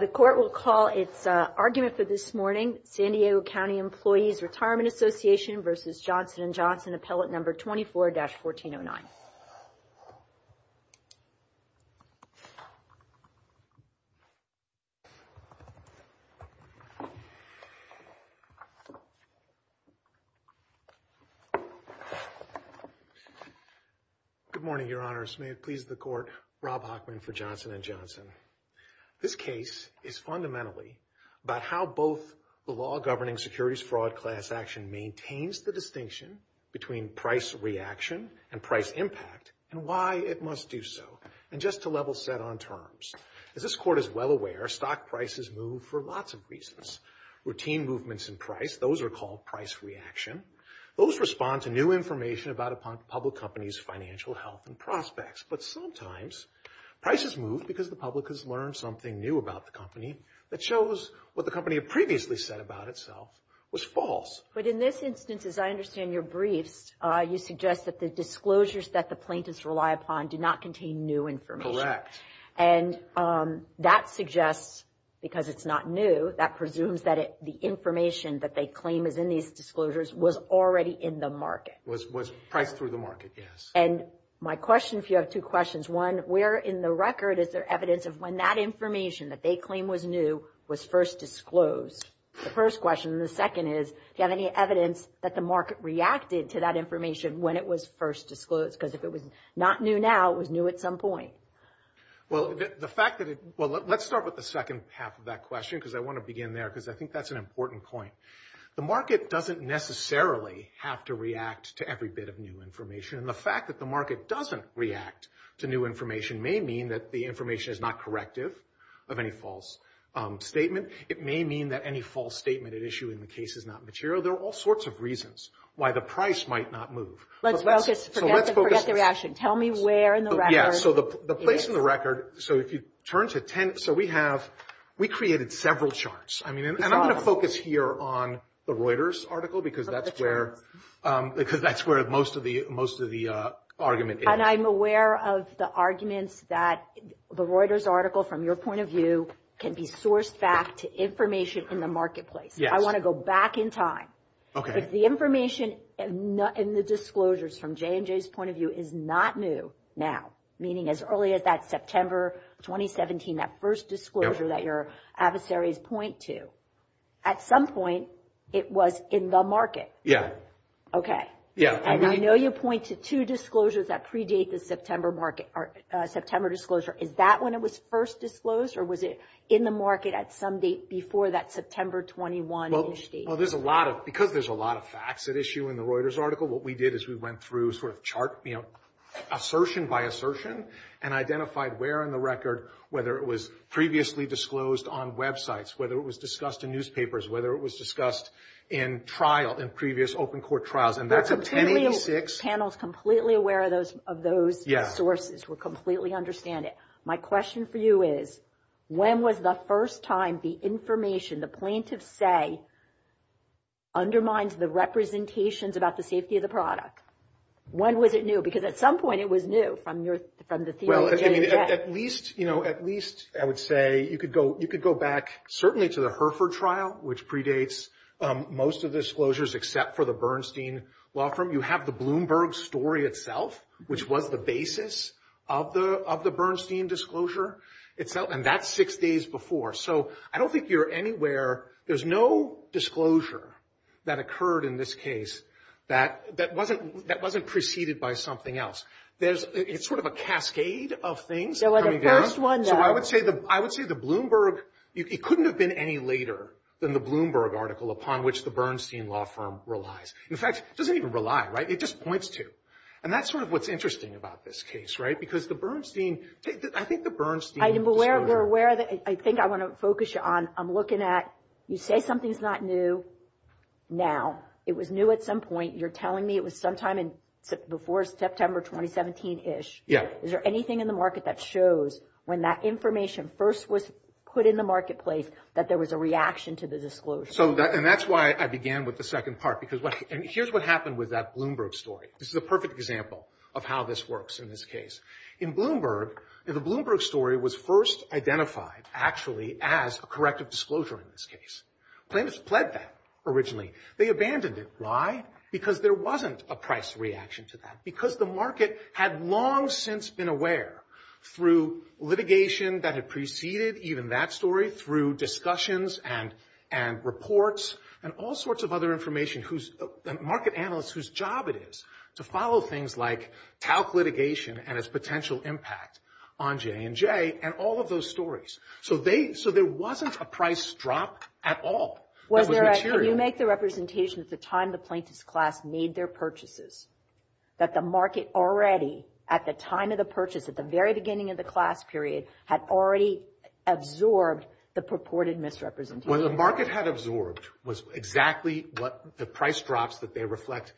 The court will call its argument for this morning, San Diego County Employees Retirement Association versus Johnson and Johnson appellate number 24-1409. Good morning, Your Honors. May it please the court, Rob Hochman for Johnson and Johnson. This case is fundamentally about how both the law governing securities fraud class action maintains the distinction between price reaction and price impact and why it must do so. And just to level set on terms. As this court is well aware, stock prices move for lots of reasons. Routine movements in price, those are called price reaction. Those respond to new information about a public company's financial health and prospects. But sometimes prices move because the public has learned something new about the company that shows what the company had previously said about itself was false. But in this instance, as I understand your briefs, you suggest that the disclosures that the plaintiffs rely upon do not contain new information. And that suggests, because it's not new, that presumes that the information that they claim is in these disclosures was already in the market. Was priced through the market, yes. And my question, if you have two questions. One, where in the record is there evidence of when that information that they claim was new was first disclosed? The first question. The second is, do you have any evidence that the market reacted to that information when it was first disclosed? Because if it was not new now, it was new at some point. Well, the fact that it, well, let's start with the second half of that question because I want to begin there because I think that's an important point. The market doesn't necessarily have to react to every bit of new information. And the fact that the market doesn't react to new information may mean that the information is not corrective of any false statement. It may mean that any false statement at issue in the case is not material. There are all sorts of reasons why the price might not move. Let's focus. Forget the reaction. Tell me where in the record. Yeah, so the place in the record, so if you turn to 10, so we have, we created several charts. And I'm going to focus here on the Reuters article because that's where most of the argument is. And I'm aware of the arguments that the Reuters article, from your point of view, can be sourced back to information in the marketplace. I want to go back in time. If the information in the disclosures from J&J's point of view is not new now, meaning as early as that September 2017, that first disclosure that your adversaries point to, at some point it was in the market. Okay. Yeah. And I know you point to two disclosures that predate the September market or September disclosure. Is that when it was first disclosed or was it in the market at some date before that September 21? Well, there's a lot of, because there's a lot of facts at issue in the Reuters article, what we did is we went through sort of chart, you know, assertion by assertion and identified where in the record, whether it was previously disclosed on websites, whether it was discussed in newspapers, whether it was discussed in trial, in previous open court trials. And that's a 1086. The panel's completely aware of those sources. We completely understand it. My question for you is, when was the first time the information the plaintiffs say undermines the representations about the safety of the product? When was it new? Because at some point it was new from your, from the theme of the general judge. Well, at least, you know, at least I would say you could go, you could go back certainly to the Herford trial, which predates most of the disclosures except for the Bernstein law firm. You have the Bloomberg story itself, which was the basis of the Bernstein disclosure itself, and that's six days before. So I don't think you're anywhere. There's no disclosure that occurred in this case that wasn't preceded by something else. It's sort of a cascade of things coming down. There was a first one, though. So I would say the Bloomberg, it couldn't have been any later than the Bloomberg article upon which the Bernstein law firm relies. In fact, it doesn't even rely, right? It just points to. And that's sort of what's interesting about this case, right? Because the Bernstein, I think the Bernstein disclosure. I think I want to focus you on, I'm looking at, you say something's not new now. It was new at some point. You're telling me it was sometime before September 2017-ish. Yeah. Is there anything in the market that shows when that information first was put in the marketplace that there was a reaction to the disclosure? And that's why I began with the second part. And here's what happened with that Bloomberg story. This is a perfect example of how this works in this case. In Bloomberg, the Bloomberg story was first identified, actually, as a corrective disclosure in this case. Plaintiffs pled that originally. They abandoned it. Why? Because there wasn't a price reaction to that. Because the market had long since been aware through litigation that had preceded even that story, through discussions and reports and all sorts of other information, market analysts whose job it is to follow things like talc litigation and its potential impact on J&J and all of those stories. So there wasn't a price drop at all that was material. Can you make the representation at the time the plaintiff's class made their purchases, that the market already, at the time of the purchase, at the very beginning of the class period, had already absorbed the purported misrepresentation? What the market had absorbed was exactly what the price drops that they reflect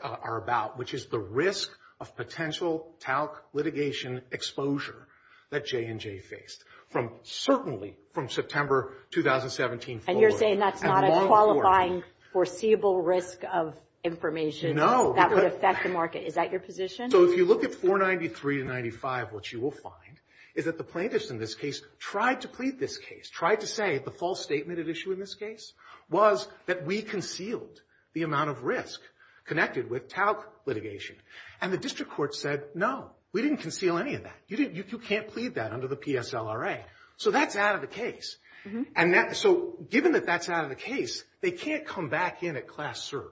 are about, which is the risk of potential talc litigation exposure that J&J faced, certainly from September 2017 forward. And you're saying that's not a qualifying, foreseeable risk of information. No. That would affect the market. Is that your position? So if you look at 493 to 95, what you will find is that the plaintiffs in this case tried to plead this case, tried to say the false statement at issue in this case was that we concealed the amount of risk connected with talc litigation. And the district court said, no, we didn't conceal any of that. You can't plead that under the PSLRA. So that's out of the case. And so given that that's out of the case, they can't come back in at class serve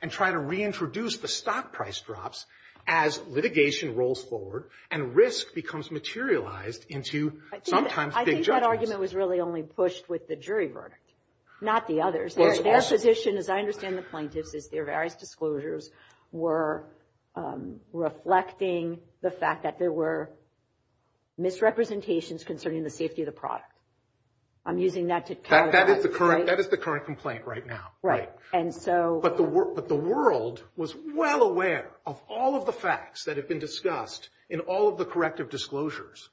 and try to reintroduce the stock price drops as litigation rolls forward and risk becomes materialized into sometimes big judgments. So the statement was really only pushed with the jury verdict, not the others. Their position, as I understand the plaintiffs, is their various disclosures were reflecting the fact that there were misrepresentations concerning the safety of the product. I'm using that to categorize. That is the current complaint right now. Right. And so. But the world was well aware of all of the facts that have been discussed in all of the corrective disclosures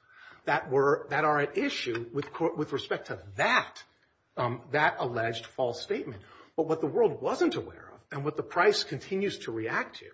that are at issue with respect to that alleged false statement. But what the world wasn't aware of and what the price continues to react to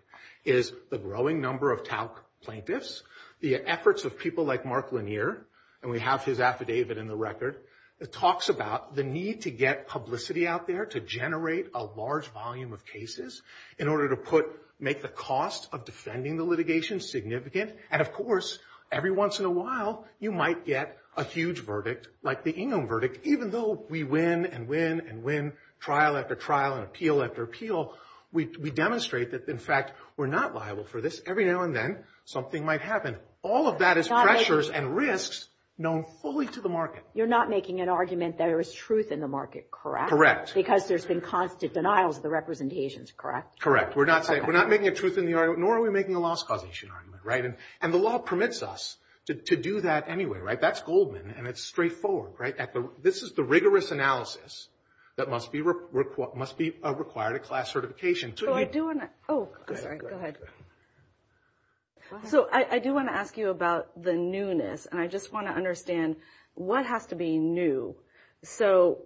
is the growing number of talc plaintiffs, the efforts of people like Mark Lanier, and we have his affidavit in the record. It talks about the need to get publicity out there to generate a large volume of cases in order to make the cost of defending the litigation significant. And, of course, every once in a while you might get a huge verdict like the Ingham verdict, even though we win and win and win, trial after trial and appeal after appeal, we demonstrate that, in fact, we're not liable for this. Every now and then something might happen. All of that is pressures and risks known fully to the market. You're not making an argument that there is truth in the market, correct? Correct. Because there's been constant denials of the representations, correct? Correct. We're not making a truth in the argument, nor are we making a loss causation argument, right? And the law permits us to do that anyway, right? That's Goldman, and it's straightforward, right? This is the rigorous analysis that must be required at class certification. So I do want to ask you about the newness, and I just want to understand what has to be new. So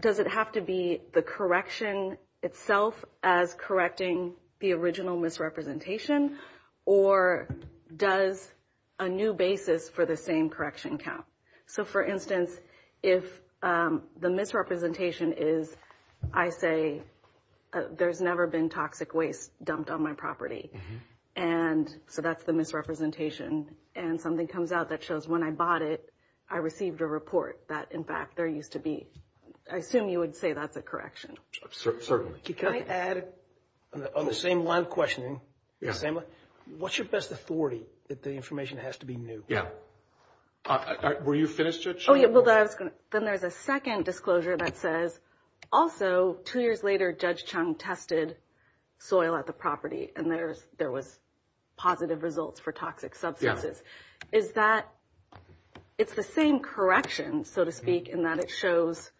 does it have to be the correction itself as correcting the original misrepresentation, or does a new basis for the same correction count? So, for instance, if the misrepresentation is, I say, there's never been toxic waste dumped on my property. And so that's the misrepresentation. And something comes out that shows when I bought it, I received a report that, in fact, there used to be. I assume you would say that's a correction. Can I add, on the same line of questioning, what's your best authority that the information has to be new? Yeah. Were you finished, Judge Chung? Then there's a second disclosure that says, also, two years later, Judge Chung tested soil at the property, and there was positive results for toxic substances. Yeah. It's the same correction, so to speak, in that it shows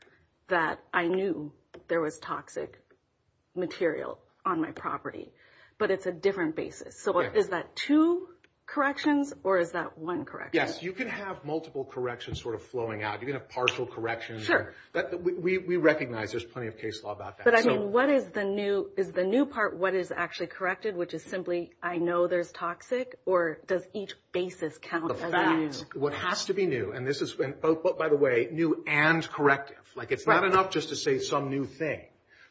that I knew there was toxic material on my property. But it's a different basis. So is that two corrections, or is that one correction? Yes. You can have multiple corrections sort of flowing out. You can have partial corrections. We recognize there's plenty of case law about that. But, I mean, is the new part what is actually corrected, which is simply, I know there's toxic, or does each basis count as new? The facts. What has to be new, and this has been, by the way, new and corrective. Like, it's not enough just to say some new thing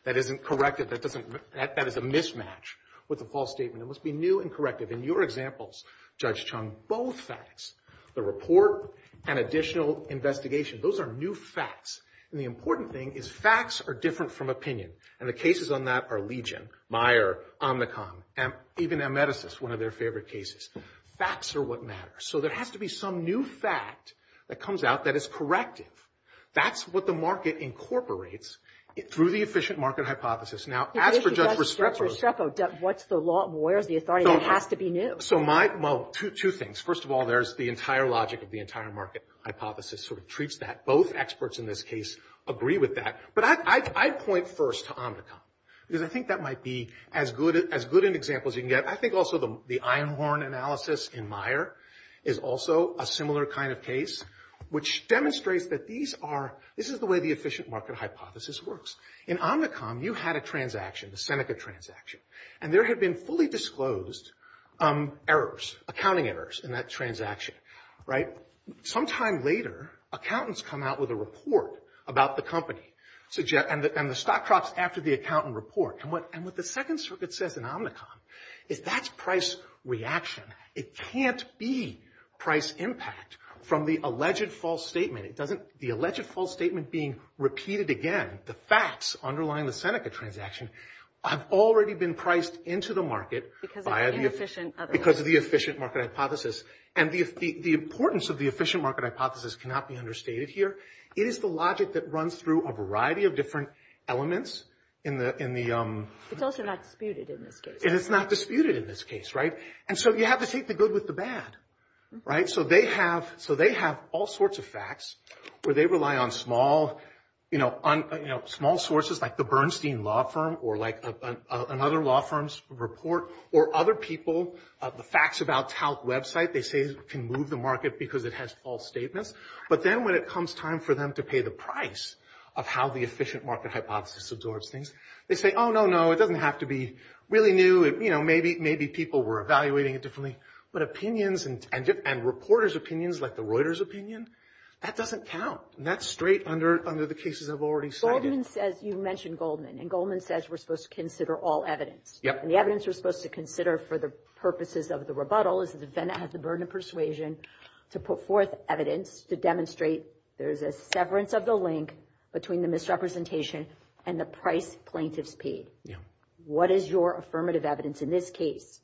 that isn't corrective. That is a mismatch with a false statement. It must be new and corrective. In your examples, Judge Chung, both facts, the report and additional investigation, those are new facts. And the important thing is facts are different from opinion. And the cases on that are Legion, Meyer, Omnicom, even Ameticist, one of their favorite cases. Facts are what matters. So there has to be some new fact that comes out that is corrective. That's what the market incorporates through the efficient market hypothesis. Now, as for Judge Restrepo. Judge Restrepo, what's the law and where is the authority that has to be new? So my, well, two things. First of all, there's the entire logic of the entire market hypothesis sort of treats that. Both experts in this case agree with that. But I'd point first to Omnicom because I think that might be as good an example as you can get. I think also the Einhorn analysis in Meyer is also a similar kind of case, which demonstrates that these are, this is the way the efficient market hypothesis works. In Omnicom, you had a transaction, the Seneca transaction. And there had been fully disclosed errors, accounting errors in that transaction, right? Well, sometime later, accountants come out with a report about the company. And the stock drops after the accountant report. And what the Second Circuit says in Omnicom is that's price reaction. It can't be price impact from the alleged false statement. It doesn't, the alleged false statement being repeated again, the facts underlying the Seneca transaction, have already been priced into the market because of the efficient market hypothesis. And the importance of the efficient market hypothesis cannot be understated here. It is the logic that runs through a variety of different elements in the- It's also not disputed in this case. And it's not disputed in this case, right? And so you have to take the good with the bad, right? So they have all sorts of facts where they rely on small sources like the Bernstein law firm or like another law firm's report or other people. The facts about TALC website, they say can move the market because it has false statements. But then when it comes time for them to pay the price of how the efficient market hypothesis absorbs things, they say, oh, no, no, it doesn't have to be really new. You know, maybe people were evaluating it differently. But opinions and reporters' opinions like the Reuters opinion, that doesn't count. And that's straight under the cases I've already cited. Goldman says, you mentioned Goldman, and Goldman says we're supposed to consider all evidence. And the evidence we're supposed to consider for the purposes of the rebuttal is the defendant has the burden of persuasion to put forth evidence to demonstrate there's a severance of the link between the misrepresentation and the price plaintiffs paid. What is your affirmative evidence in this case?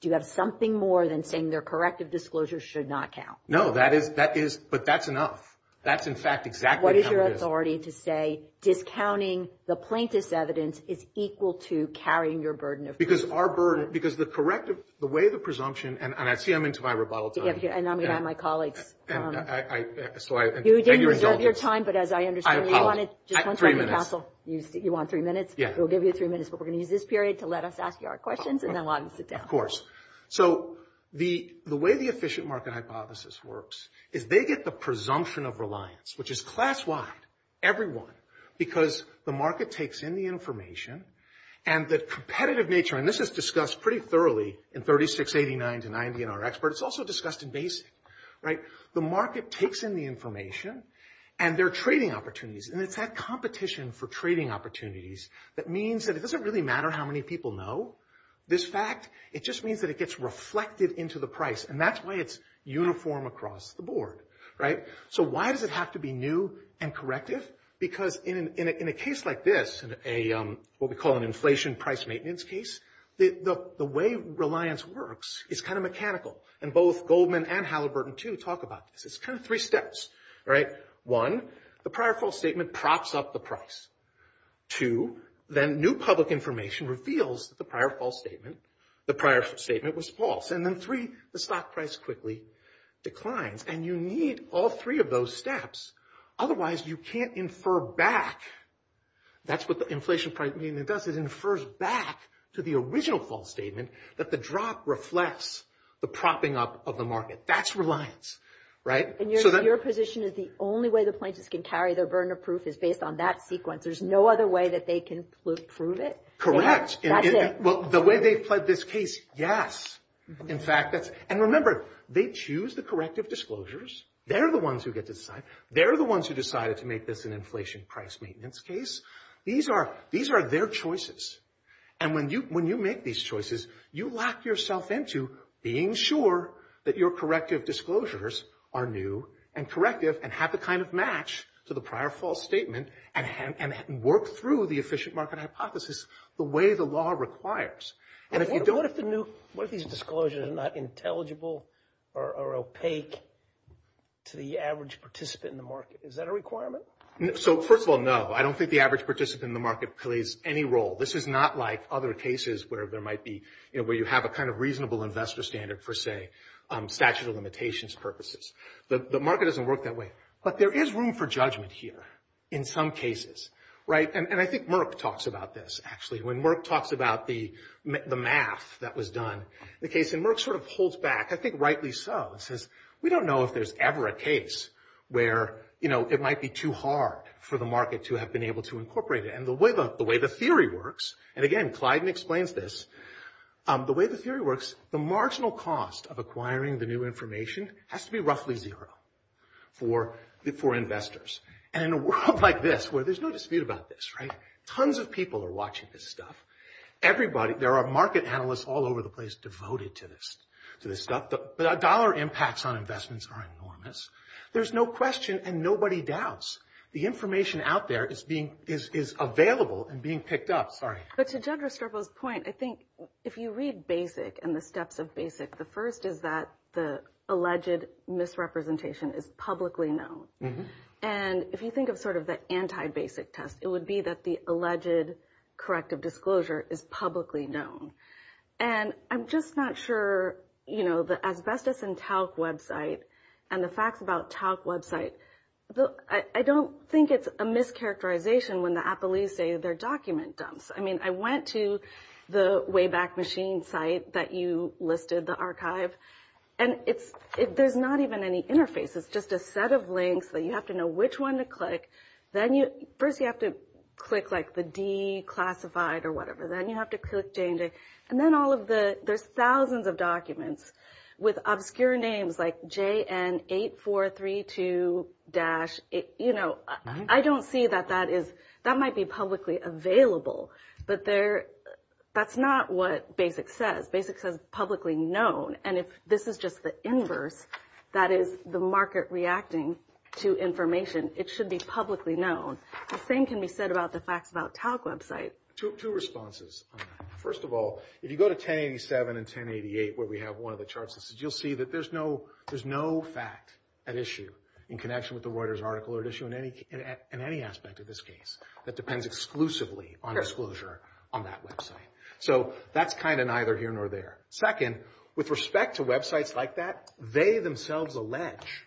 Do you have something more than saying their corrective disclosure should not count? No, that is, but that's enough. That's, in fact, exactly how it is. What is your authority to say discounting the plaintiff's evidence is equal to carrying your burden of proof? Because our burden, because the corrective, the way the presumption, and I see I'm into my rebuttal time. And I'm going to have my colleagues. You didn't reserve your time, but as I understand, you wanted just one second, counsel. You want three minutes? Yeah. We'll give you three minutes, but we're going to use this period to let us ask you our questions and then we'll have you sit down. Of course. So the way the efficient market hypothesis works is they get the presumption of reliance, which is class-wide, everyone, because the market takes in the information and the competitive nature, and this is discussed pretty thoroughly in 3689 to 90 in our expert. It's also discussed in basic, right? The market takes in the information and their trading opportunities, and it's that competition for trading opportunities that means that it doesn't really matter how many people know this fact. It just means that it gets reflected into the price, and that's why it's uniform across the board, right? So why does it have to be new and corrective? Because in a case like this, what we call an inflation price maintenance case, the way reliance works is kind of mechanical, and both Goldman and Halliburton, too, talk about this. It's kind of three steps, right? One, the prior false statement props up the price. Two, then new public information reveals that the prior false statement, the prior statement was false. And then three, the stock price quickly declines, and you need all three of those steps. Otherwise, you can't infer back. That's what the inflation price maintenance does. It infers back to the original false statement that the drop reflects the propping up of the market. That's reliance, right? And your position is the only way the plaintiffs can carry their burden of proof is based on that sequence. There's no other way that they can prove it? That's it. Well, the way they've played this case, yes. In fact, that's – and remember, they choose the corrective disclosures. They're the ones who get to decide. They're the ones who decided to make this an inflation price maintenance case. These are their choices. And when you make these choices, you lock yourself into being sure that your corrective disclosures are new and corrective and have the kind of match to the prior false statement and work through the efficient market hypothesis the way the law requires. And if you don't – What if the new – what if these disclosures are not intelligible or opaque to the average participant in the market? Is that a requirement? So, first of all, no. I don't think the average participant in the market plays any role. This is not like other cases where there might be – where you have a kind of reasonable investor standard for, say, statute of limitations purposes. The market doesn't work that way. But there is room for judgment here in some cases, right? And I think Merck talks about this, actually. When Merck talks about the math that was done, the case in Merck sort of holds back, I think rightly so. It says, we don't know if there's ever a case where, you know, it might be too hard for the market to have been able to incorporate it. And the way the theory works – and again, Clyde explains this. The way the theory works, the marginal cost of acquiring the new information has to be roughly zero for investors. And in a world like this where there's no dispute about this, right, tons of people are watching this stuff. Everybody – there are market analysts all over the place devoted to this stuff. The dollar impacts on investments are enormous. There's no question and nobody doubts. The information out there is being – is available and being picked up. But to Judd Restropo's point, I think if you read BASIC and the steps of BASIC, the first is that the alleged misrepresentation is publicly known. And if you think of sort of the anti-BASIC test, it would be that the alleged corrective disclosure is publicly known. And I'm just not sure, you know, the asbestos and talc website and the facts about talc website. I don't think it's a mischaracterization when the appellees say their document dumps. I mean, I went to the Wayback Machine site that you listed, the archive, and it's – there's not even any interface. It's just a set of links that you have to know which one to click. Then you – first you have to click like the declassified or whatever. Then you have to click J and J. And then all of the – there's thousands of documents with obscure names like JN8432-. You know, I don't see that that is – that might be publicly available. But there – that's not what BASIC says. BASIC says publicly known. And if this is just the inverse, that is the market reacting to information, it should be publicly known. The same can be said about the facts about talc website. Two responses on that. First of all, if you go to 1087 and 1088 where we have one of the charts, you'll see that there's no fact at issue in connection with the Reuters article or at issue in any aspect of this case that depends exclusively on disclosure on that website. So that's kind of neither here nor there. Second, with respect to websites like that, they themselves allege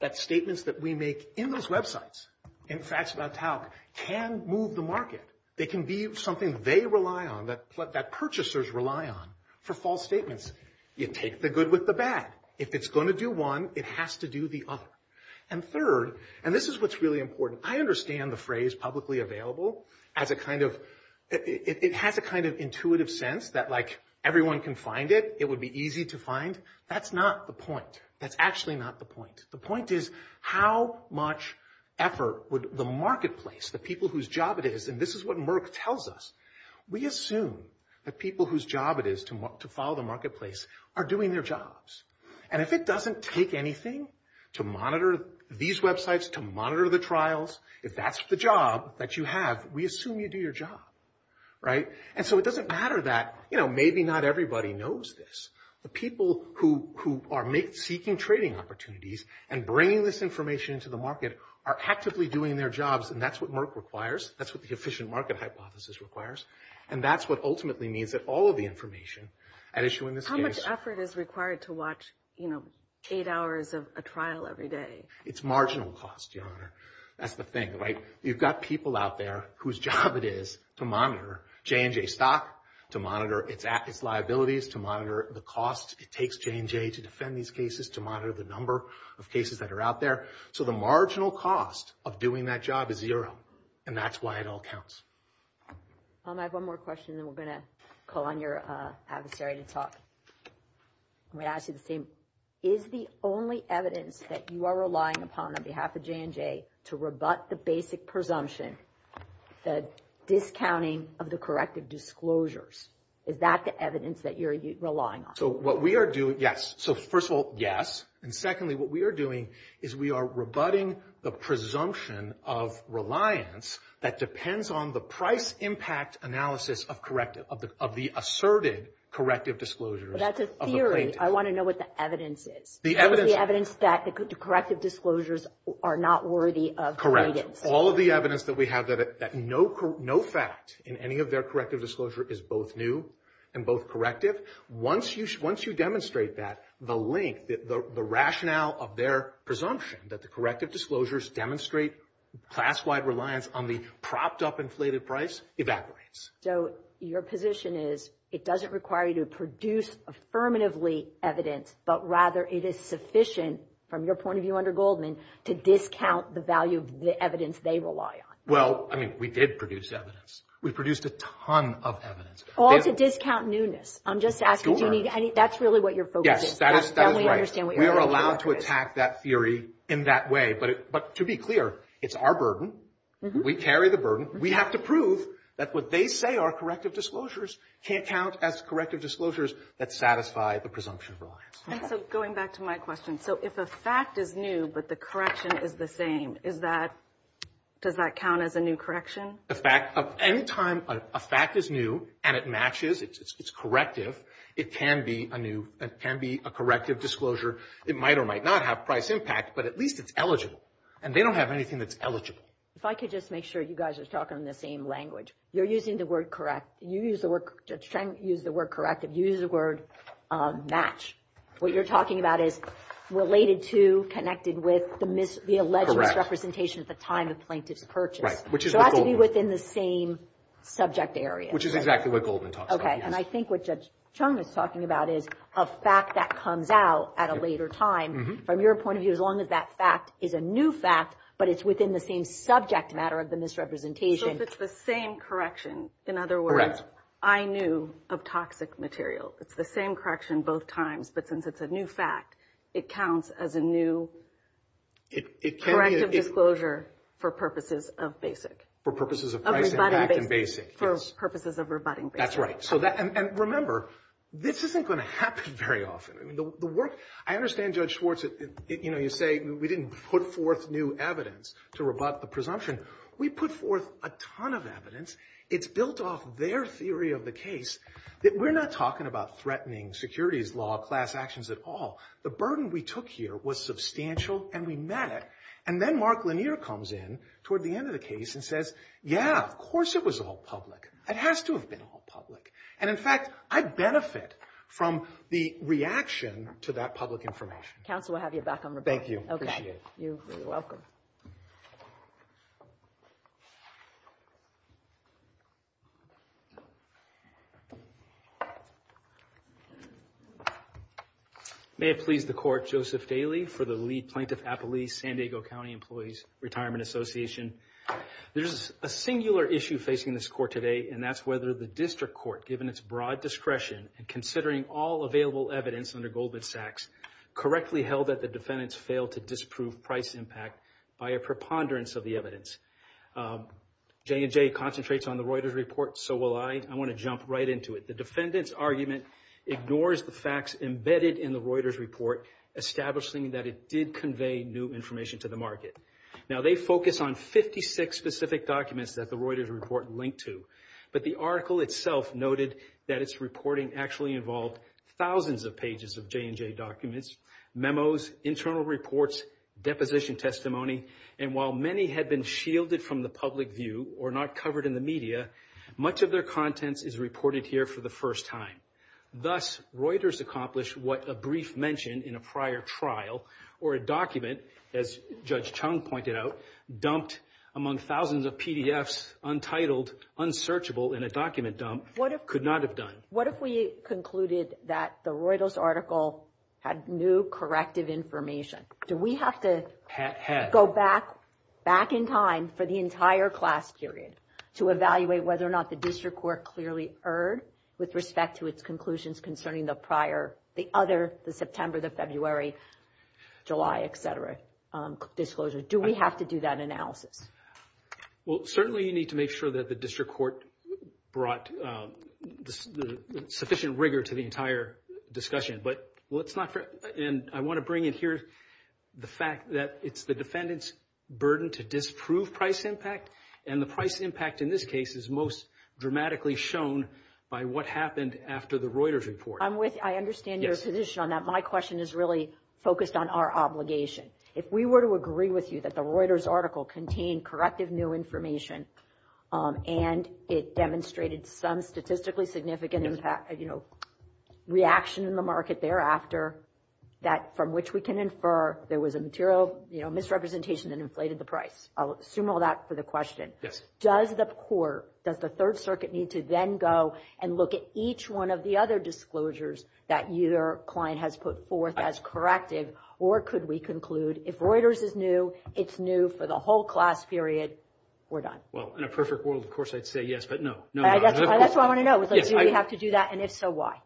that statements that we make in those websites and facts about talc can move the market. They can be something they rely on, that purchasers rely on for false statements. You take the good with the bad. If it's going to do one, it has to do the other. And third, and this is what's really important, I understand the phrase publicly available as a kind of – it has a kind of intuitive sense that, like, everyone can find it, it would be easy to find. That's not the point. That's actually not the point. The point is how much effort would the marketplace, the people whose job it is, and this is what Merck tells us, we assume that people whose job it is to follow the marketplace are doing their jobs. And if it doesn't take anything to monitor these websites, to monitor the trials, if that's the job that you have, we assume you do your job. Right? And so it doesn't matter that, you know, maybe not everybody knows this. The people who are seeking trading opportunities and bringing this information into the market are actively doing their jobs, and that's what Merck requires. That's what the efficient market hypothesis requires. And that's what ultimately means that all of the information at issue in this case – How much effort is required to watch, you know, eight hours of a trial every day? It's marginal cost, Your Honor. That's the thing, right? You've got people out there whose job it is to monitor J&J stock, to monitor its liabilities, to monitor the cost it takes J&J to defend these cases, to monitor the number of cases that are out there. So the marginal cost of doing that job is zero, and that's why it all counts. I have one more question, then we're going to call on your adversary to talk. I'm going to ask you the same. Is the only evidence that you are relying upon on behalf of J&J to rebut the basic presumption, the discounting of the corrective disclosures, is that the evidence that you're relying on? So what we are doing – yes. So, first of all, yes. And secondly, what we are doing is we are rebutting the presumption of reliance that depends on the price impact analysis of corrective – of the asserted corrective disclosures of the plaintiff. I want to know what the evidence is. The evidence – What is the evidence that the corrective disclosures are not worthy of guidance? All of the evidence that we have that no fact in any of their corrective disclosure is both new and both corrective, once you demonstrate that, the link, the rationale of their presumption that the corrective disclosures demonstrate class-wide reliance on the propped-up inflated price evaporates. So your position is it doesn't require you to produce affirmatively evidence, but rather it is sufficient, from your point of view under Goldman, to discount the value of the evidence they rely on. Well, I mean, we did produce evidence. We produced a ton of evidence. All to discount newness. I'm just asking. That's really what your focus is. Yes, that is right. We are allowed to attack that theory in that way. But to be clear, it's our burden. We carry the burden. We have to prove that what they say are corrective disclosures can't count as corrective disclosures that satisfy the presumption of reliance. And so going back to my question, so if a fact is new but the correction is the same, is that – does that count as a new correction? A fact – any time a fact is new and it matches, it's corrective, it can be a new – it can be a corrective disclosure. It might or might not have price impact, but at least it's eligible. And they don't have anything that's eligible. If I could just make sure you guys are talking in the same language. You're using the word correct. You use the word – Judge Chung used the word corrective. You used the word match. What you're talking about is related to, connected with, the alleged misrepresentation at the time of plaintiff's purchase. So it has to be within the same subject area. Which is exactly what Goldman talks about. Okay. And I think what Judge Chung is talking about is a fact that comes out at a later time. From your point of view, as long as that fact is a new fact, but it's within the same subject matter of the misrepresentation. So if it's the same correction, in other words, I knew of toxic material. It's the same correction both times, but since it's a new fact, it counts as a new corrective disclosure for purposes of basic. For purposes of price impact and basic. For purposes of rebutting basic. That's right. And remember, this isn't going to happen very often. I understand, Judge Schwartz, you say we didn't put forth new evidence to rebut the presumption. We put forth a ton of evidence. It's built off their theory of the case that we're not talking about threatening securities law class actions at all. The burden we took here was substantial and we met it. And then Mark Lanier comes in toward the end of the case and says, yeah, of course it was all public. It has to have been all public. And, in fact, I benefit from the reaction to that public information. Counsel, we'll have you back on rebuttal. Thank you. Appreciate it. You're welcome. May it please the Court, Joseph Daly for the lead plaintiff, Appalachee-San Diego County Employees Retirement Association. There's a singular issue facing this Court today, and that's whether the district court, given its broad discretion in considering all available evidence under Goldman Sachs, correctly held that the defendants failed to disprove price impact by a preponderance of the evidence. J&J concentrates on the Reuters report, so will I. I want to jump right into it. The defendant's argument ignores the facts embedded in the Reuters report, establishing that it did convey new information to the market. Now, they focus on 56 specific documents that the Reuters report linked to, but the article itself noted that its reporting actually involved thousands of pages of J&J documents, memos, internal reports, deposition testimony, and while many had been shielded from the public view or not covered in the media, much of their contents is reported here for the first time. Thus, Reuters accomplished what a brief mention in a prior trial or a document, as Judge Chung pointed out, dumped among thousands of PDFs, untitled, unsearchable in a document dump, could not have done. What if we concluded that the Reuters article had new corrective information? Do we have to go back in time for the entire class period to evaluate whether or not the district court clearly erred with respect to its conclusions concerning the prior, the other, the September, the February, July, et cetera, disclosure? Do we have to do that analysis? Well, certainly you need to make sure that the district court brought sufficient rigor to the entire discussion, but I want to bring in here the fact that it's the defendant's burden to disprove price impact and the price impact in this case is most dramatically shown by what happened after the Reuters report. I'm with, I understand your position on that. My question is really focused on our obligation. If we were to agree with you that the Reuters article contained corrective new information and it demonstrated some statistically significant impact, you know, reaction in the market thereafter, that from which we can infer there was a material, you know, misrepresentation that inflated the price. I'll assume all that for the question. Does the court, does the Third Circuit need to then go and look at each one of the other disclosures that your client has put forth as corrective, or could we conclude if Reuters is new, it's new for the whole class period, we're done? Well, in a perfect world, of course, I'd say yes, but no. That's what I want to know is do we have to do that, and if so, why?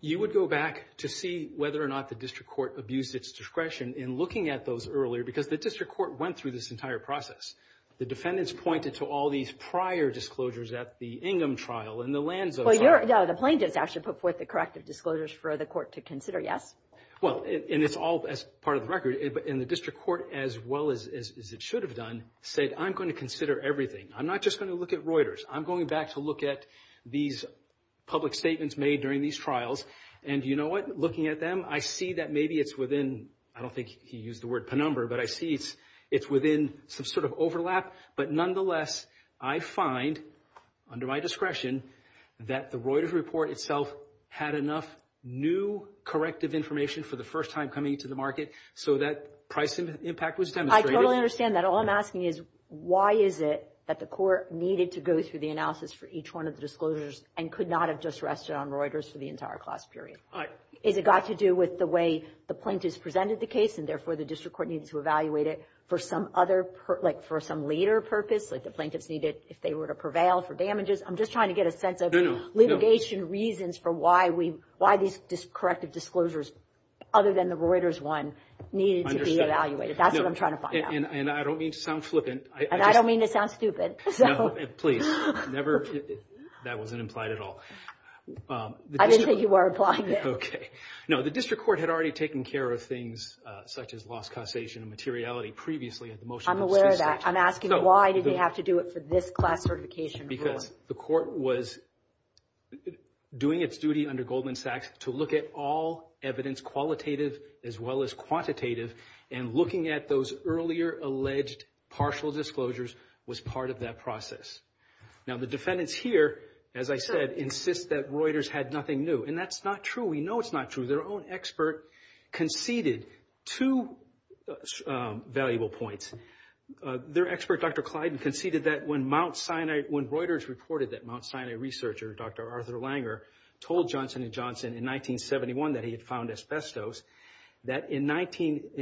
You would go back to see whether or not the district court abused its discretion in looking at those earlier because the district court went through this entire process. The defendants pointed to all these prior disclosures at the Ingham trial and the Lanzo trial. No, the plaintiffs actually put forth the corrective disclosures for the court to consider, yes? Well, and it's all as part of the record, and the district court, as well as it should have done, said I'm going to consider everything. I'm not just going to look at Reuters. I'm going back to look at these public statements made during these trials, and you know what? Looking at them, I see that maybe it's within, I don't think he used the word penumbra, but I see it's within some sort of overlap. But nonetheless, I find under my discretion that the Reuters report itself had enough new corrective information for the first time coming into the market so that price impact was demonstrated. I totally understand that. All I'm asking is why is it that the court needed to go through the analysis for each one of the disclosures and could not have just rested on Reuters for the entire class period? Is it got to do with the way the plaintiffs presented the case, and therefore the district court needed to evaluate it for some other, like for some later purpose, like the plaintiffs needed, if they were to prevail, for damages? I'm just trying to get a sense of litigation reasons for why these corrective disclosures, other than the Reuters one, needed to be evaluated. That's what I'm trying to find out. And I don't mean to sound flippant. And I don't mean to sound stupid. No, please. That wasn't implied at all. I didn't think you were implying that. Okay. No, the district court had already taken care of things such as lost causation and materiality previously. I'm aware of that. I'm asking why did they have to do it for this class certification? Because the court was doing its duty under Goldman Sachs to look at all evidence, qualitative as well as quantitative, and looking at those earlier alleged partial disclosures was part of that process. Now, the defendants here, as I said, insist that Reuters had nothing new. And that's not true. We know it's not true. Their own expert conceded two valuable points. Their expert, Dr. Clyden, conceded that when Mount Sinai, when Reuters reported that Mount Sinai researcher, Dr. Arthur Langer, told Johnson & Johnson in 1971 that he had found asbestos, that in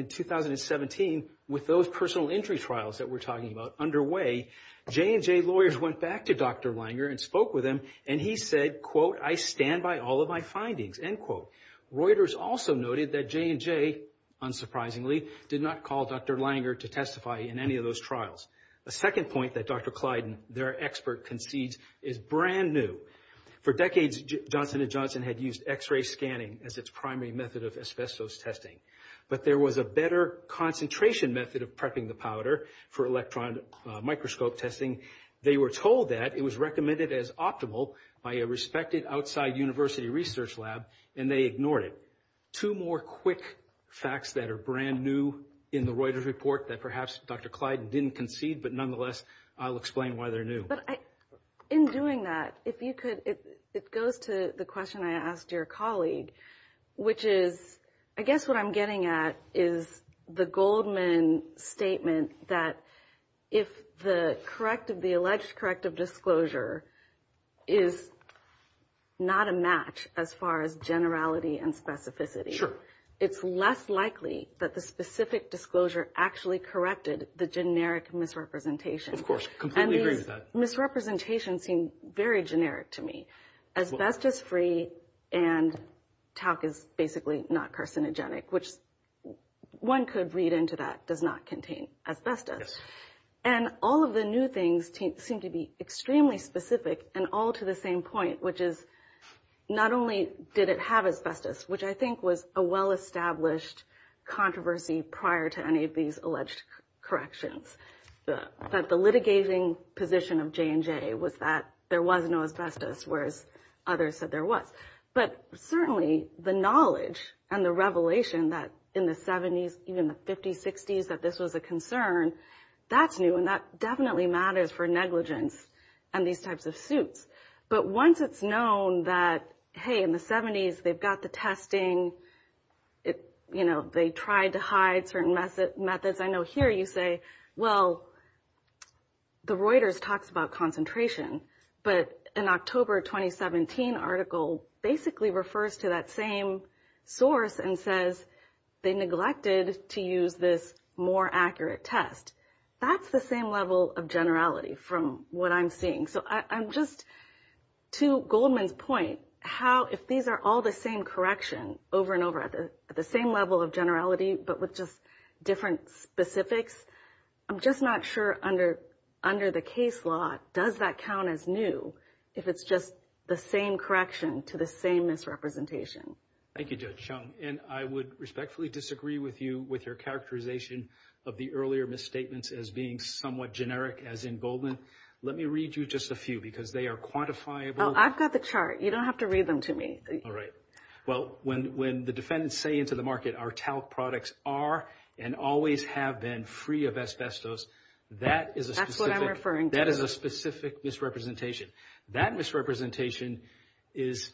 2017, with those personal injury trials that we're talking about underway, J&J lawyers went back to Dr. Langer and spoke with him, and he said, quote, I stand by all of my findings, end quote. Reuters also noted that J&J, unsurprisingly, did not call Dr. Langer to testify in any of those trials. A second point that Dr. Clyden, their expert, concedes is brand new. For decades, J&J had used X-ray scanning as its primary method of asbestos testing. But there was a better concentration method of prepping the powder for electron microscope testing. They were told that it was recommended as optimal by a respected outside university research lab, and they ignored it. Two more quick facts that are brand new in the Reuters report that perhaps Dr. Clyden didn't concede, but nonetheless, I'll explain why they're new. But in doing that, if you could, it goes to the question I asked your colleague, which is, I guess what I'm getting at is the Goldman statement that if the corrective, the alleged corrective disclosure is not a match as far as generality and specificity, it's less likely that the specific disclosure actually corrected the generic misrepresentation. And these misrepresentations seem very generic to me. Asbestos-free and talc is basically not carcinogenic, which one could read into that does not contain asbestos. And all of the new things seem to be extremely specific and all to the same point, which is not only did it have asbestos, which I think was a well-established controversy prior to any of these alleged corrections, that the litigating position of J&J was that there was no asbestos, whereas others said there was. But certainly the knowledge and the revelation that in the 70s, even the 50s, 60s, that this was a concern, that's new and that definitely matters for negligence and these types of suits. But once it's known that, hey, in the 70s, they've got the testing. You know, they tried to hide certain methods. I know here you say, well, the Reuters talks about concentration, but an October 2017 article basically refers to that same source and says they neglected to use this more accurate test. That's the same level of generality from what I'm seeing. So I'm just to Goldman's point, how if these are all the same correction over and over at the same level of generality, but with just different specifics, I'm just not sure under the case law, does that count as new if it's just the same correction to the same misrepresentation? Thank you, Judge Chung. And I would respectfully disagree with you with your characterization of the earlier misstatements as being somewhat generic, as in Goldman. Let me read you just a few because they are quantifiable. I've got the chart. You don't have to read them to me. All right. Well, when the defendants say into the market our talc products are and always have been free of asbestos, that is a specific misrepresentation. That misrepresentation is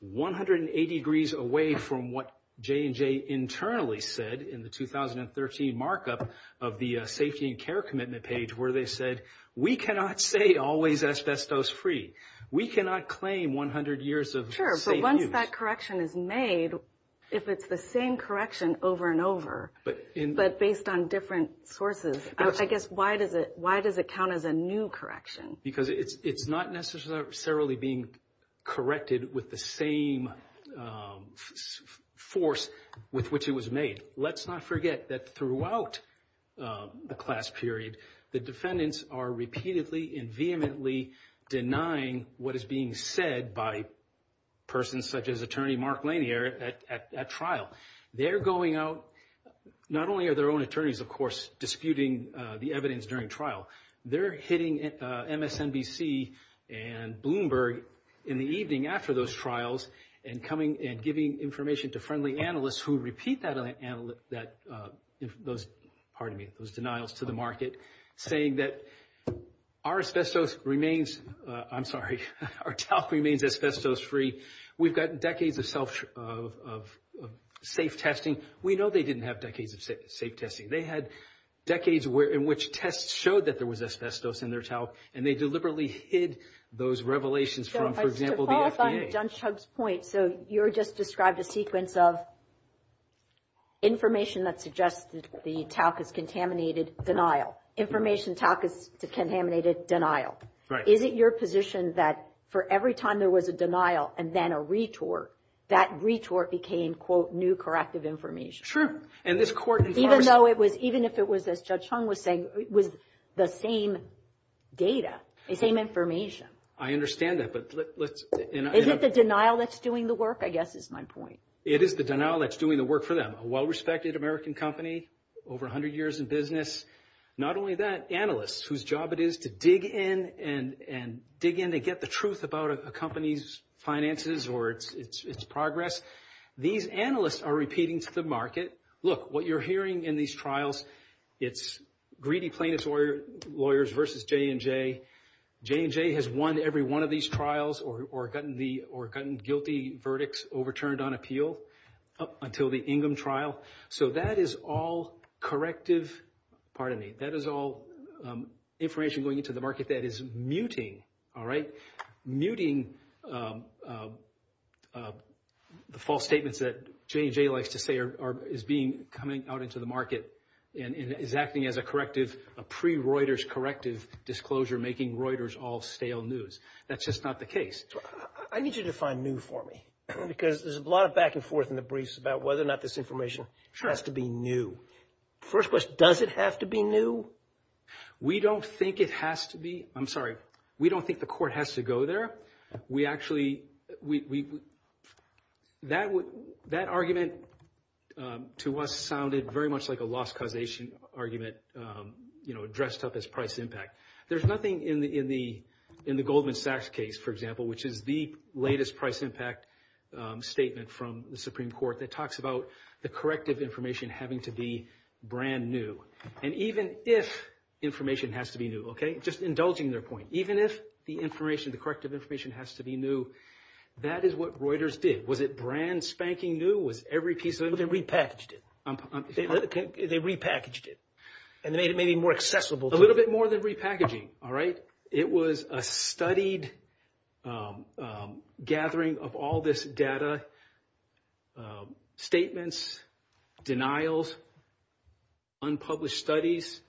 180 degrees away from what J&J internally said in the 2013 markup of the safety and care commitment page, where they said we cannot say always asbestos free. We cannot claim 100 years of safe use. Once that correction is made, if it's the same correction over and over, but based on different sources, I guess why does it count as a new correction? Because it's not necessarily being corrected with the same force with which it was made. Let's not forget that throughout the class period, the defendants are repeatedly and vehemently denying what is being said by persons such as Attorney Mark Lanier at trial. They're going out. Not only are their own attorneys, of course, disputing the evidence during trial. They're hitting MSNBC and Bloomberg in the evening after those trials and giving information to friendly analysts who repeat those denials to the market, saying that our talc remains asbestos free. We've got decades of safe testing. We know they didn't have decades of safe testing. They had decades in which tests showed that there was asbestos in their talc, and they deliberately hid those revelations from, for example, the FDA. But back on Judge Chung's point, so you just described a sequence of information that suggested the talc is contaminated denial, information talc is contaminated denial. Right. Is it your position that for every time there was a denial and then a retort, that retort became, quote, new corrective information? True. Even if it was, as Judge Chung was saying, it was the same data, the same information. I understand that, but let's— Is it the denial that's doing the work, I guess, is my point. It is the denial that's doing the work for them. A well-respected American company, over 100 years in business. Not only that, analysts whose job it is to dig in and dig in to get the truth about a company's finances or its progress. These analysts are repeating to the market, look, what you're hearing in these trials, it's greedy plaintiffs' lawyers versus J&J. J&J has won every one of these trials or gotten guilty verdicts overturned on appeal until the Ingham trial, so that is all corrective— pardon me, that is all information going into the market that is muting, all right, muting the false statements that J&J likes to say is coming out into the market and is acting as a corrective, a pre-Reuters corrective disclosure making Reuters all stale news. That's just not the case. I need you to define new for me because there's a lot of back and forth in the briefs about whether or not this information has to be new. First question, does it have to be new? We don't think it has to be—I'm sorry, we don't think the court has to go there. We actually—that argument to us sounded very much like a loss causation argument, you know, dressed up as price impact. There's nothing in the Goldman Sachs case, for example, which is the latest price impact statement from the Supreme Court that talks about the corrective information having to be brand new. And even if information has to be new, okay, just indulging their point, even if the information, the corrective information has to be new, that is what Reuters did. Was it brand spanking new? Was every piece of it— They repackaged it. They repackaged it. And they made it maybe more accessible to— A little bit more than repackaging, all right? It was a studied gathering of all this data, statements, denials, unpublished studies,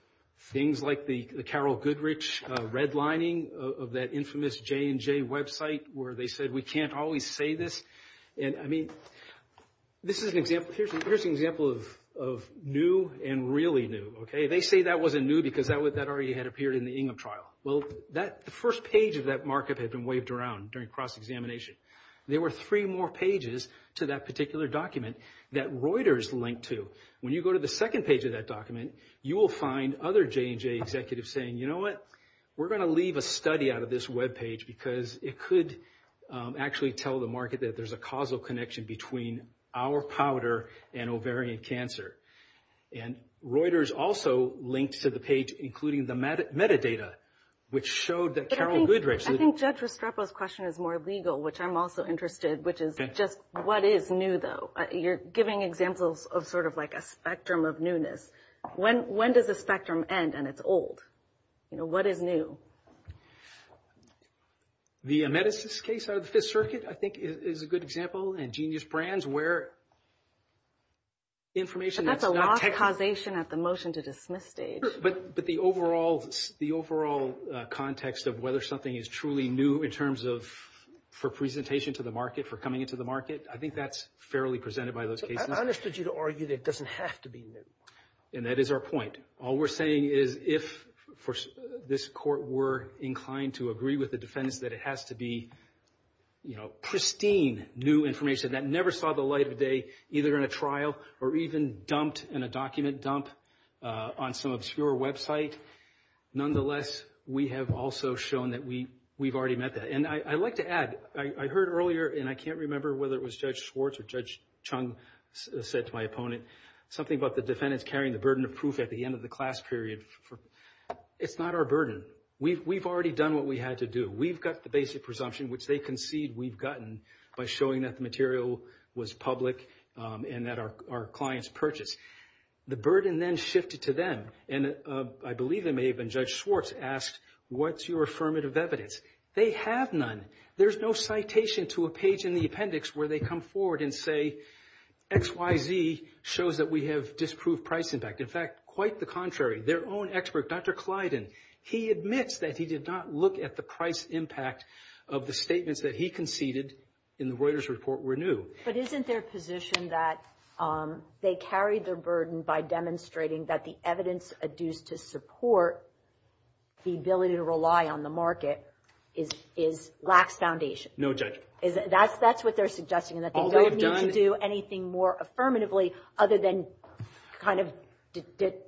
things like the Carroll Goodrich redlining of that infamous J&J website where they said we can't always say this. And, I mean, this is an example—here's an example of new and really new, okay? They say that wasn't new because that already had appeared in the Ingham trial. Well, the first page of that markup had been waved around during cross-examination. There were three more pages to that particular document that Reuters linked to. When you go to the second page of that document, you will find other J&J executives saying, you know what, we're going to leave a study out of this webpage because it could actually tell the market that there's a causal connection between our powder and ovarian cancer. And Reuters also linked to the page, including the metadata, which showed that Carroll Goodrich— I think Judge Restrepo's question is more legal, which I'm also interested, which is just what is new, though? You're giving examples of sort of like a spectrum of newness. When does the spectrum end and it's old? You know, what is new? The amethyst case out of the Fifth Circuit, I think, is a good example, and Genius Brands where information that's not— But that's a lost causation at the motion-to-dismiss stage. But the overall context of whether something is truly new in terms of for presentation to the market, for coming into the market, I think that's fairly presented by those cases. I understood you to argue that it doesn't have to be new. And that is our point. All we're saying is if this Court were inclined to agree with the defendants that it has to be, you know, pristine new information that never saw the light of day, either in a trial or even dumped in a document dump on some obscure website, nonetheless, we have also shown that we've already met that. And I'd like to add, I heard earlier, and I can't remember whether it was Judge Schwartz or Judge Chung said to my opponent something about the defendants carrying the burden of proof at the end of the class period. It's not our burden. We've already done what we had to do. We've got the basic presumption, which they concede we've gotten by showing that the material was public and that our clients purchased. The burden then shifted to them. And I believe it may have been Judge Schwartz asked, what's your affirmative evidence? They have none. There's no citation to a page in the appendix where they come forward and say, XYZ shows that we have disproved price impact. In fact, quite the contrary, their own expert, Dr. Clyden, he admits that he did not look at the price impact of the statements that he conceded in the Reuters report were new. But isn't their position that they carried their burden by demonstrating that the evidence adduced to support the ability to rely on the market lacks foundation? No, Judge. That's what they're suggesting, that they don't need to do anything more affirmatively other than kind of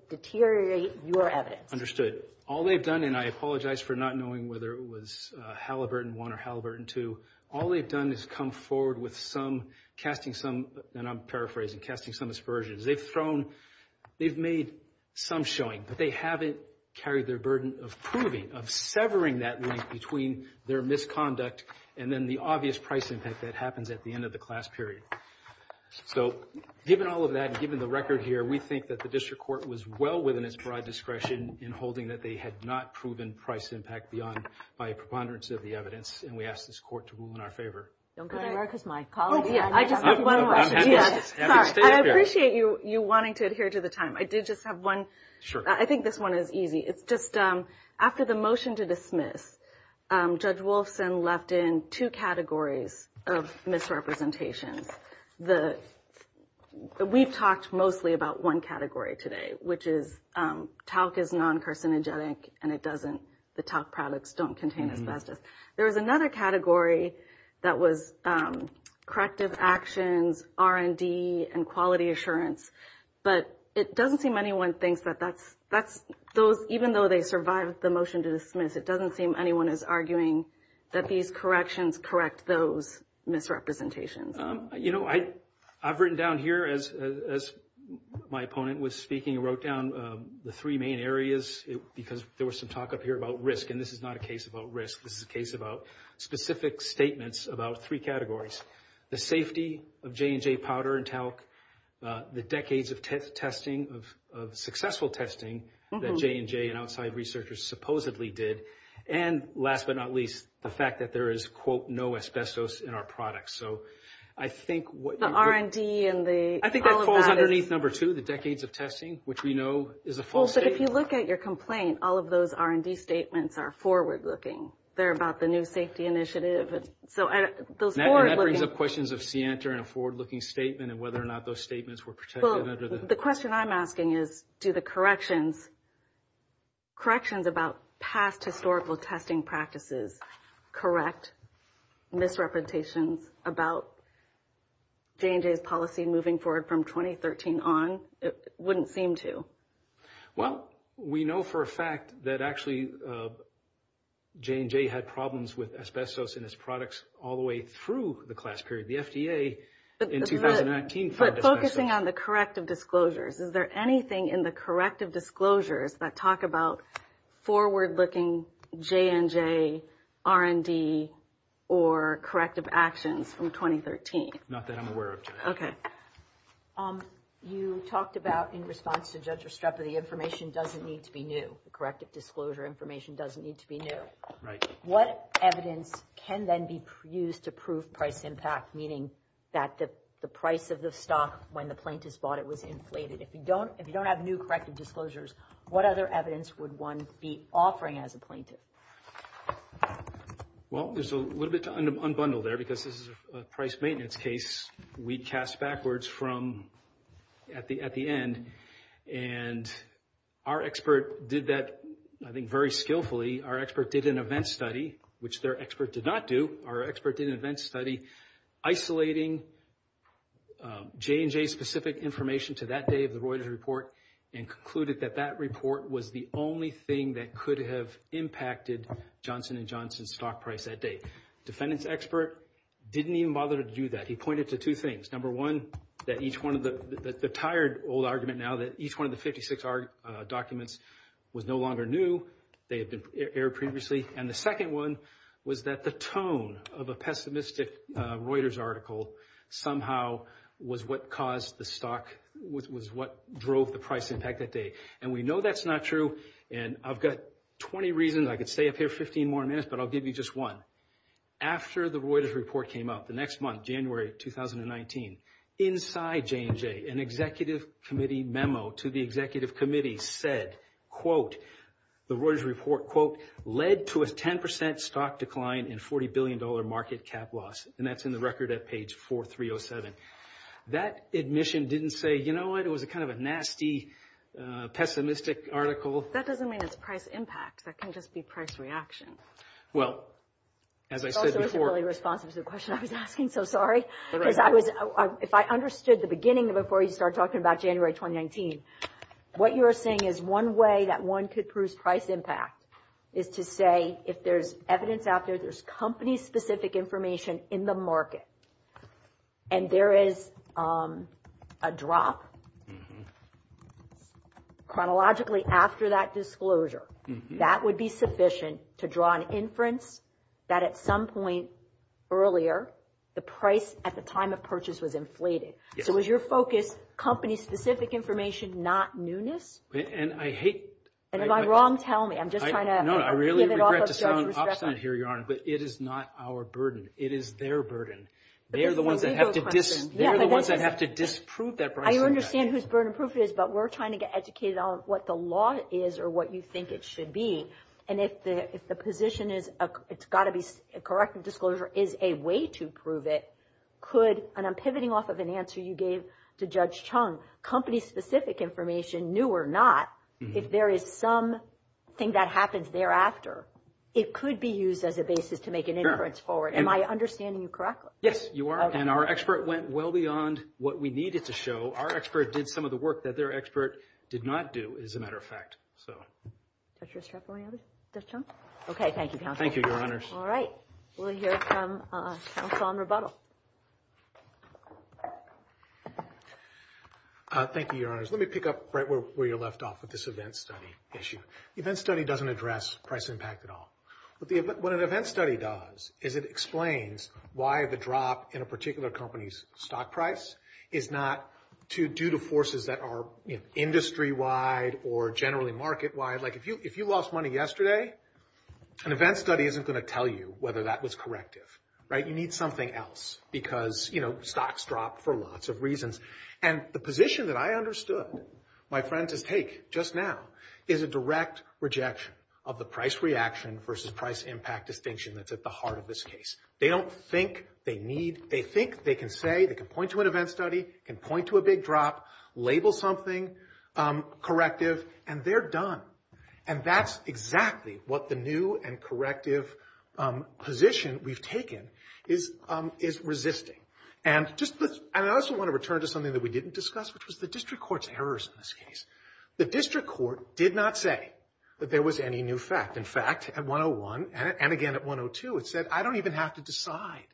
deteriorate your evidence. Understood. All they've done, and I apologize for not knowing whether it was Halliburton 1 or Halliburton 2, all they've done is come forward with some casting some, and I'm paraphrasing, casting some aspersions. They've made some showing, but they haven't carried their burden of proving, of severing that link between their misconduct and then the obvious price impact that happens at the end of the class period. So given all of that and given the record here, we think that the district court was well within its broad discretion in holding that they had not proven price impact beyond by preponderance of the evidence, and we ask this court to rule in our favor. Don't go to America's my colleague. I just have one more. I appreciate you wanting to adhere to the time. I did just have one. I think this one is easy. It's just after the motion to dismiss, Judge Wolfson left in two categories of misrepresentations. We've talked mostly about one category today, which is talc is non-carcinogenic, and the talc products don't contain asbestos. There was another category that was corrective actions, R&D, and quality assurance, but it doesn't seem anyone thinks that that's those, even though they survived the motion to dismiss, it doesn't seem anyone is arguing that these corrections correct those misrepresentations. You know, I've written down here, as my opponent was speaking, wrote down the three main areas because there was some talk up here about risk, and this is not a case about risk. This is a case about specific statements about three categories, the safety of J&J powder and talc, the decades of testing, of successful testing that J&J and outside researchers supposedly did, and last but not least, the fact that there is, quote, no asbestos in our products. The R&D and all of that. I think that falls underneath number two, the decades of testing, which we know is a false statement. If you look at your complaint, all of those R&D statements are forward-looking. They're about the new safety initiative. So those forward-looking. And that brings up questions of Sienta and a forward-looking statement and whether or not those statements were protected under the. Well, the question I'm asking is do the corrections, corrections about past historical testing practices correct misrepresentations about J&J's policy moving forward from 2013 on? It wouldn't seem to. Well, we know for a fact that actually J&J had problems with asbestos in its products all the way through the class period. The FDA in 2019 found asbestos. But focusing on the corrective disclosures, is there anything in the corrective disclosures that talk about forward-looking J&J, R&D, or corrective actions from 2013? Not that I'm aware of, Jen. Okay. You talked about in response to Judge Restrepo, the information doesn't need to be new. The corrective disclosure information doesn't need to be new. What evidence can then be used to prove price impact, meaning that the price of the stock when the plaintiff bought it was inflated? If you don't have new corrective disclosures, what other evidence would one be offering as a plaintiff? Well, there's a little bit to unbundle there because this is a price maintenance case. We cast backwards from at the end, and our expert did that, I think, very skillfully. Our expert did an event study, which their expert did not do. Our expert did an event study isolating J&J-specific information to that day of the Reuters report and concluded that that report was the only thing that could have impacted Johnson & Johnson's stock price that day. Defendant's expert didn't even bother to do that. He pointed to two things. Number one, the tired old argument now that each one of the 56 documents was no longer new. They had been aired previously. And the second one was that the tone of a pessimistic Reuters article somehow was what caused the stock, was what drove the price impact that day. And we know that's not true, and I've got 20 reasons. I could stay up here 15 more minutes, but I'll give you just one. After the Reuters report came out the next month, January 2019, inside J&J, an executive committee memo to the executive committee said, quote, the Reuters report, quote, led to a 10% stock decline and $40 billion market cap loss, and that's in the record at page 4307. That admission didn't say, you know what, it was kind of a nasty, pessimistic article. That doesn't mean it's price impact. That can just be price reaction. Well, as I said before. That also isn't really responsive to the question I was asking, so sorry. Because if I understood the beginning before you started talking about January 2019, what you are saying is one way that one could prove price impact is to say if there's evidence out there, there's company-specific information in the market, and there is a drop chronologically after that disclosure, that would be sufficient to draw an inference that at some point earlier the price at the time of purchase was inflated. So is your focus company-specific information, not newness? And I hate— And am I wrong? Tell me. I'm just trying to— No, I really regret to sound obstinate here, Your Honor, but it is not our burden. It is their burden. They are the ones that have to disprove that price impact. I understand whose burden proof it is, but we're trying to get educated on what the law is or what you think it should be. And if the position is it's got to be—a corrective disclosure is a way to prove it, could—and I'm pivoting off of an answer you gave to Judge Chung—company-specific information, new or not, if there is something that happens thereafter, it could be used as a basis to make an inference forward. Am I understanding you correctly? Yes, you are. And our expert went well beyond what we needed to show. Our expert did some of the work that their expert did not do, as a matter of fact, so. Judge Restrepo, any other—Judge Chung? Okay, thank you, Counsel. Thank you, Your Honors. All right, we'll hear from Counsel on rebuttal. Thank you, Your Honors. Let me pick up right where you left off with this event study issue. The event study doesn't address price impact at all. What an event study does is it explains why the drop in a particular company's stock price is not due to forces that are, you know, industry-wide or generally market-wide. Like, if you lost money yesterday, an event study isn't going to tell you whether that was corrective, right? You need something else because, you know, stocks dropped for lots of reasons. And the position that I understood my friend to take just now is a direct rejection of the price reaction versus price impact distinction that's at the heart of this case. They don't think they need—they think they can say, they can point to an event study, can point to a big drop, label something corrective, and they're done. And that's exactly what the new and corrective position we've taken is resisting. And I also want to return to something that we didn't discuss, which was the district court's errors in this case. The district court did not say that there was any new fact. In fact, at 101, and again at 102, it said, I don't even have to decide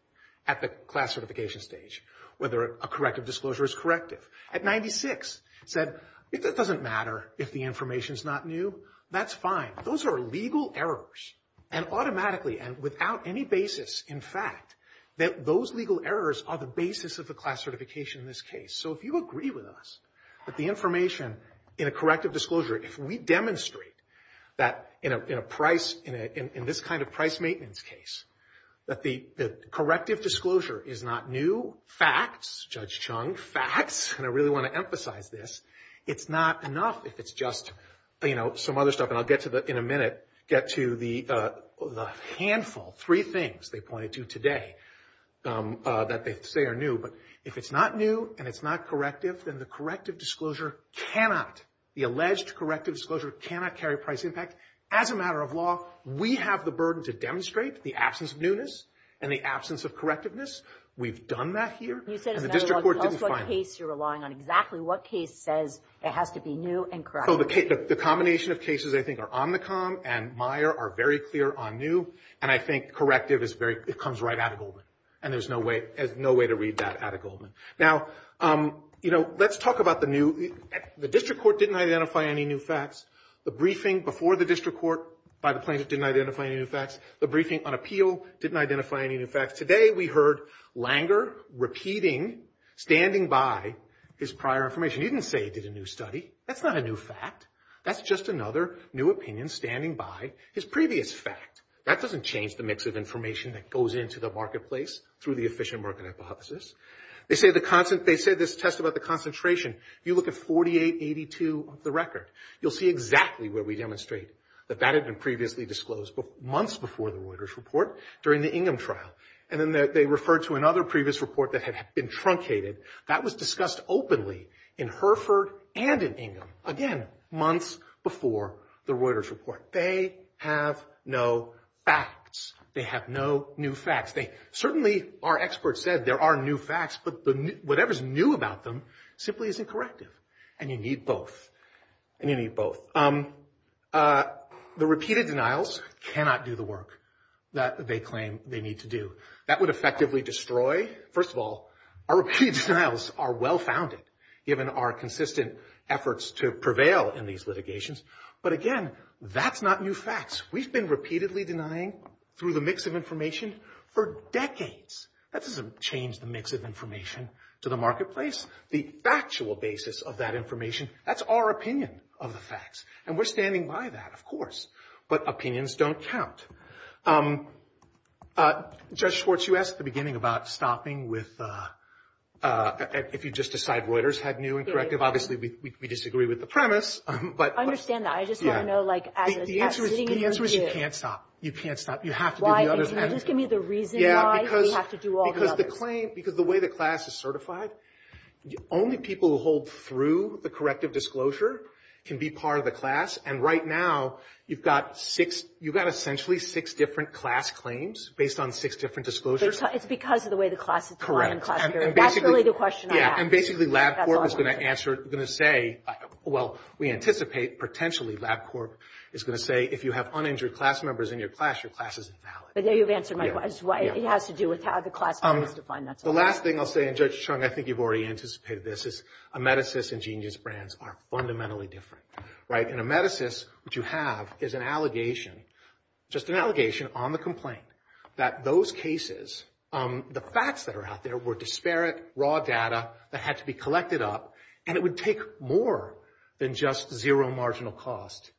at the class certification stage whether a corrective disclosure is corrective. At 96, it said, it doesn't matter if the information's not new. That's fine. Those are legal errors, and automatically and without any basis, in fact, that those legal errors are the basis of the class certification in this case. So if you agree with us that the information in a corrective disclosure, if we demonstrate that in a price—in this kind of price maintenance case, that the corrective disclosure is not new, facts, Judge Chung, facts, and I really want to emphasize this, it's not enough if it's just, you know, some other stuff. And I'll get to the—in a minute, get to the handful, three things they pointed to today that they say are new. But if it's not new and it's not corrective, then the corrective disclosure cannot—the alleged corrective disclosure cannot carry price impact. As a matter of law, we have the burden to demonstrate the absence of newness and the absence of correctiveness. We've done that here, and the district court didn't find it. You said, as a matter of law, it's also a case you're relying on. Exactly what case says it has to be new and corrective? Oh, the combination of cases I think are Omnicom and Meyer are very clear on new. And I think corrective is very—it comes right out of Goldman. And there's no way—there's no way to read that out of Goldman. Now, you know, let's talk about the new—the district court didn't identify any new facts. The briefing before the district court by the plaintiff didn't identify any new facts. The briefing on appeal didn't identify any new facts. Today we heard Langer repeating, standing by, his prior information. He didn't say he did a new study. That's not a new fact. That's just another new opinion standing by his previous fact. That doesn't change the mix of information that goes into the marketplace through the efficient market hypothesis. They say the—they say this test about the concentration, you look at 4882 of the record, you'll see exactly where we demonstrate that that had been previously disclosed months before the Reuters report during the Ingham trial. And then they referred to another previous report that had been truncated. That was discussed openly in Hereford and in Ingham, again, months before the Reuters report. They have no facts. They have no new facts. They—certainly our experts said there are new facts, but whatever's new about them simply isn't corrective. And you need both. And you need both. The repeated denials cannot do the work that they claim they need to do. That would effectively destroy—first of all, our repeated denials are well-founded, given our consistent efforts to prevail in these litigations. But again, that's not new facts. We've been repeatedly denying through the mix of information for decades. That doesn't change the mix of information to the marketplace. The factual basis of that information, that's our opinion of the facts. And we're standing by that, of course. But opinions don't count. Judge Schwartz, you asked at the beginning about stopping with—if you just decide Reuters had new and corrective. Obviously, we disagree with the premise, but— I understand that. I just want to know, like, as— The answer is you can't stop. You can't stop. You have to do the others. Just give me the reason why we have to do all the others. Because the claim—because the way the class is certified, only people who hold through the corrective disclosure can be part of the class. And right now, you've got six—you've got essentially six different class claims based on six different disclosures. It's because of the way the class is defined. Correct. That's really the question I asked. And basically LabCorp is going to say—well, we anticipate, potentially, LabCorp is going to say if you have uninjured class members in your class, your class isn't valid. But there you've answered my question. It has to do with how the class is defined. The last thing I'll say, and Judge Chung, I think you've already anticipated this, is a medicist and genius brands are fundamentally different. Right? In a medicist, what you have is an allegation, just an allegation on the complaint, that those cases, the facts that are out there were disparate, raw data that had to be collected up, and it would take more than just zero marginal cost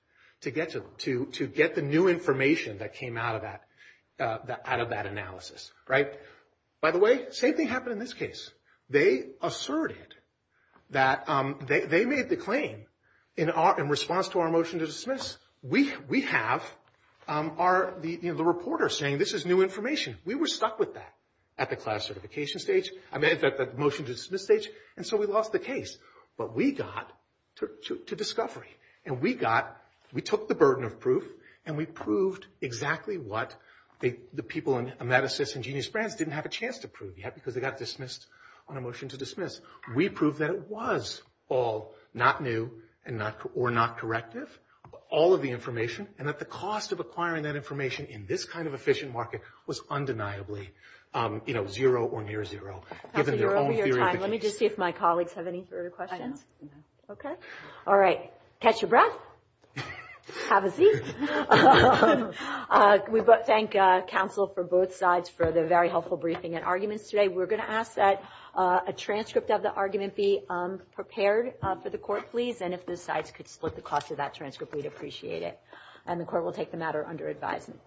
to get the new information that came out of that analysis. Right? By the way, same thing happened in this case. They asserted that—they made the claim in response to our motion to dismiss. We have our—the reporter saying this is new information. We were stuck with that at the class certification stage, I mean, in fact, at the motion to dismiss stage, and so we lost the case. But we got to discovery, and we got—we took the burden of proof, and we proved exactly what the people in a medicist and genius brands didn't have a chance to prove yet because they got dismissed on a motion to dismiss. We proved that it was all not new or not corrective, all of the information, and that the cost of acquiring that information in this kind of efficient market was undeniably, you know, zero or near zero, given their own theory of the case. Let me just see if my colleagues have any further questions. I don't. Okay. All right. Catch your breath. Have a seat. We thank counsel for both sides for the very helpful briefing and arguments today. We're going to ask that a transcript of the argument be prepared for the court, please, and if the sides could split the cost of that transcript, we'd appreciate it. And the court will take the matter under advisement.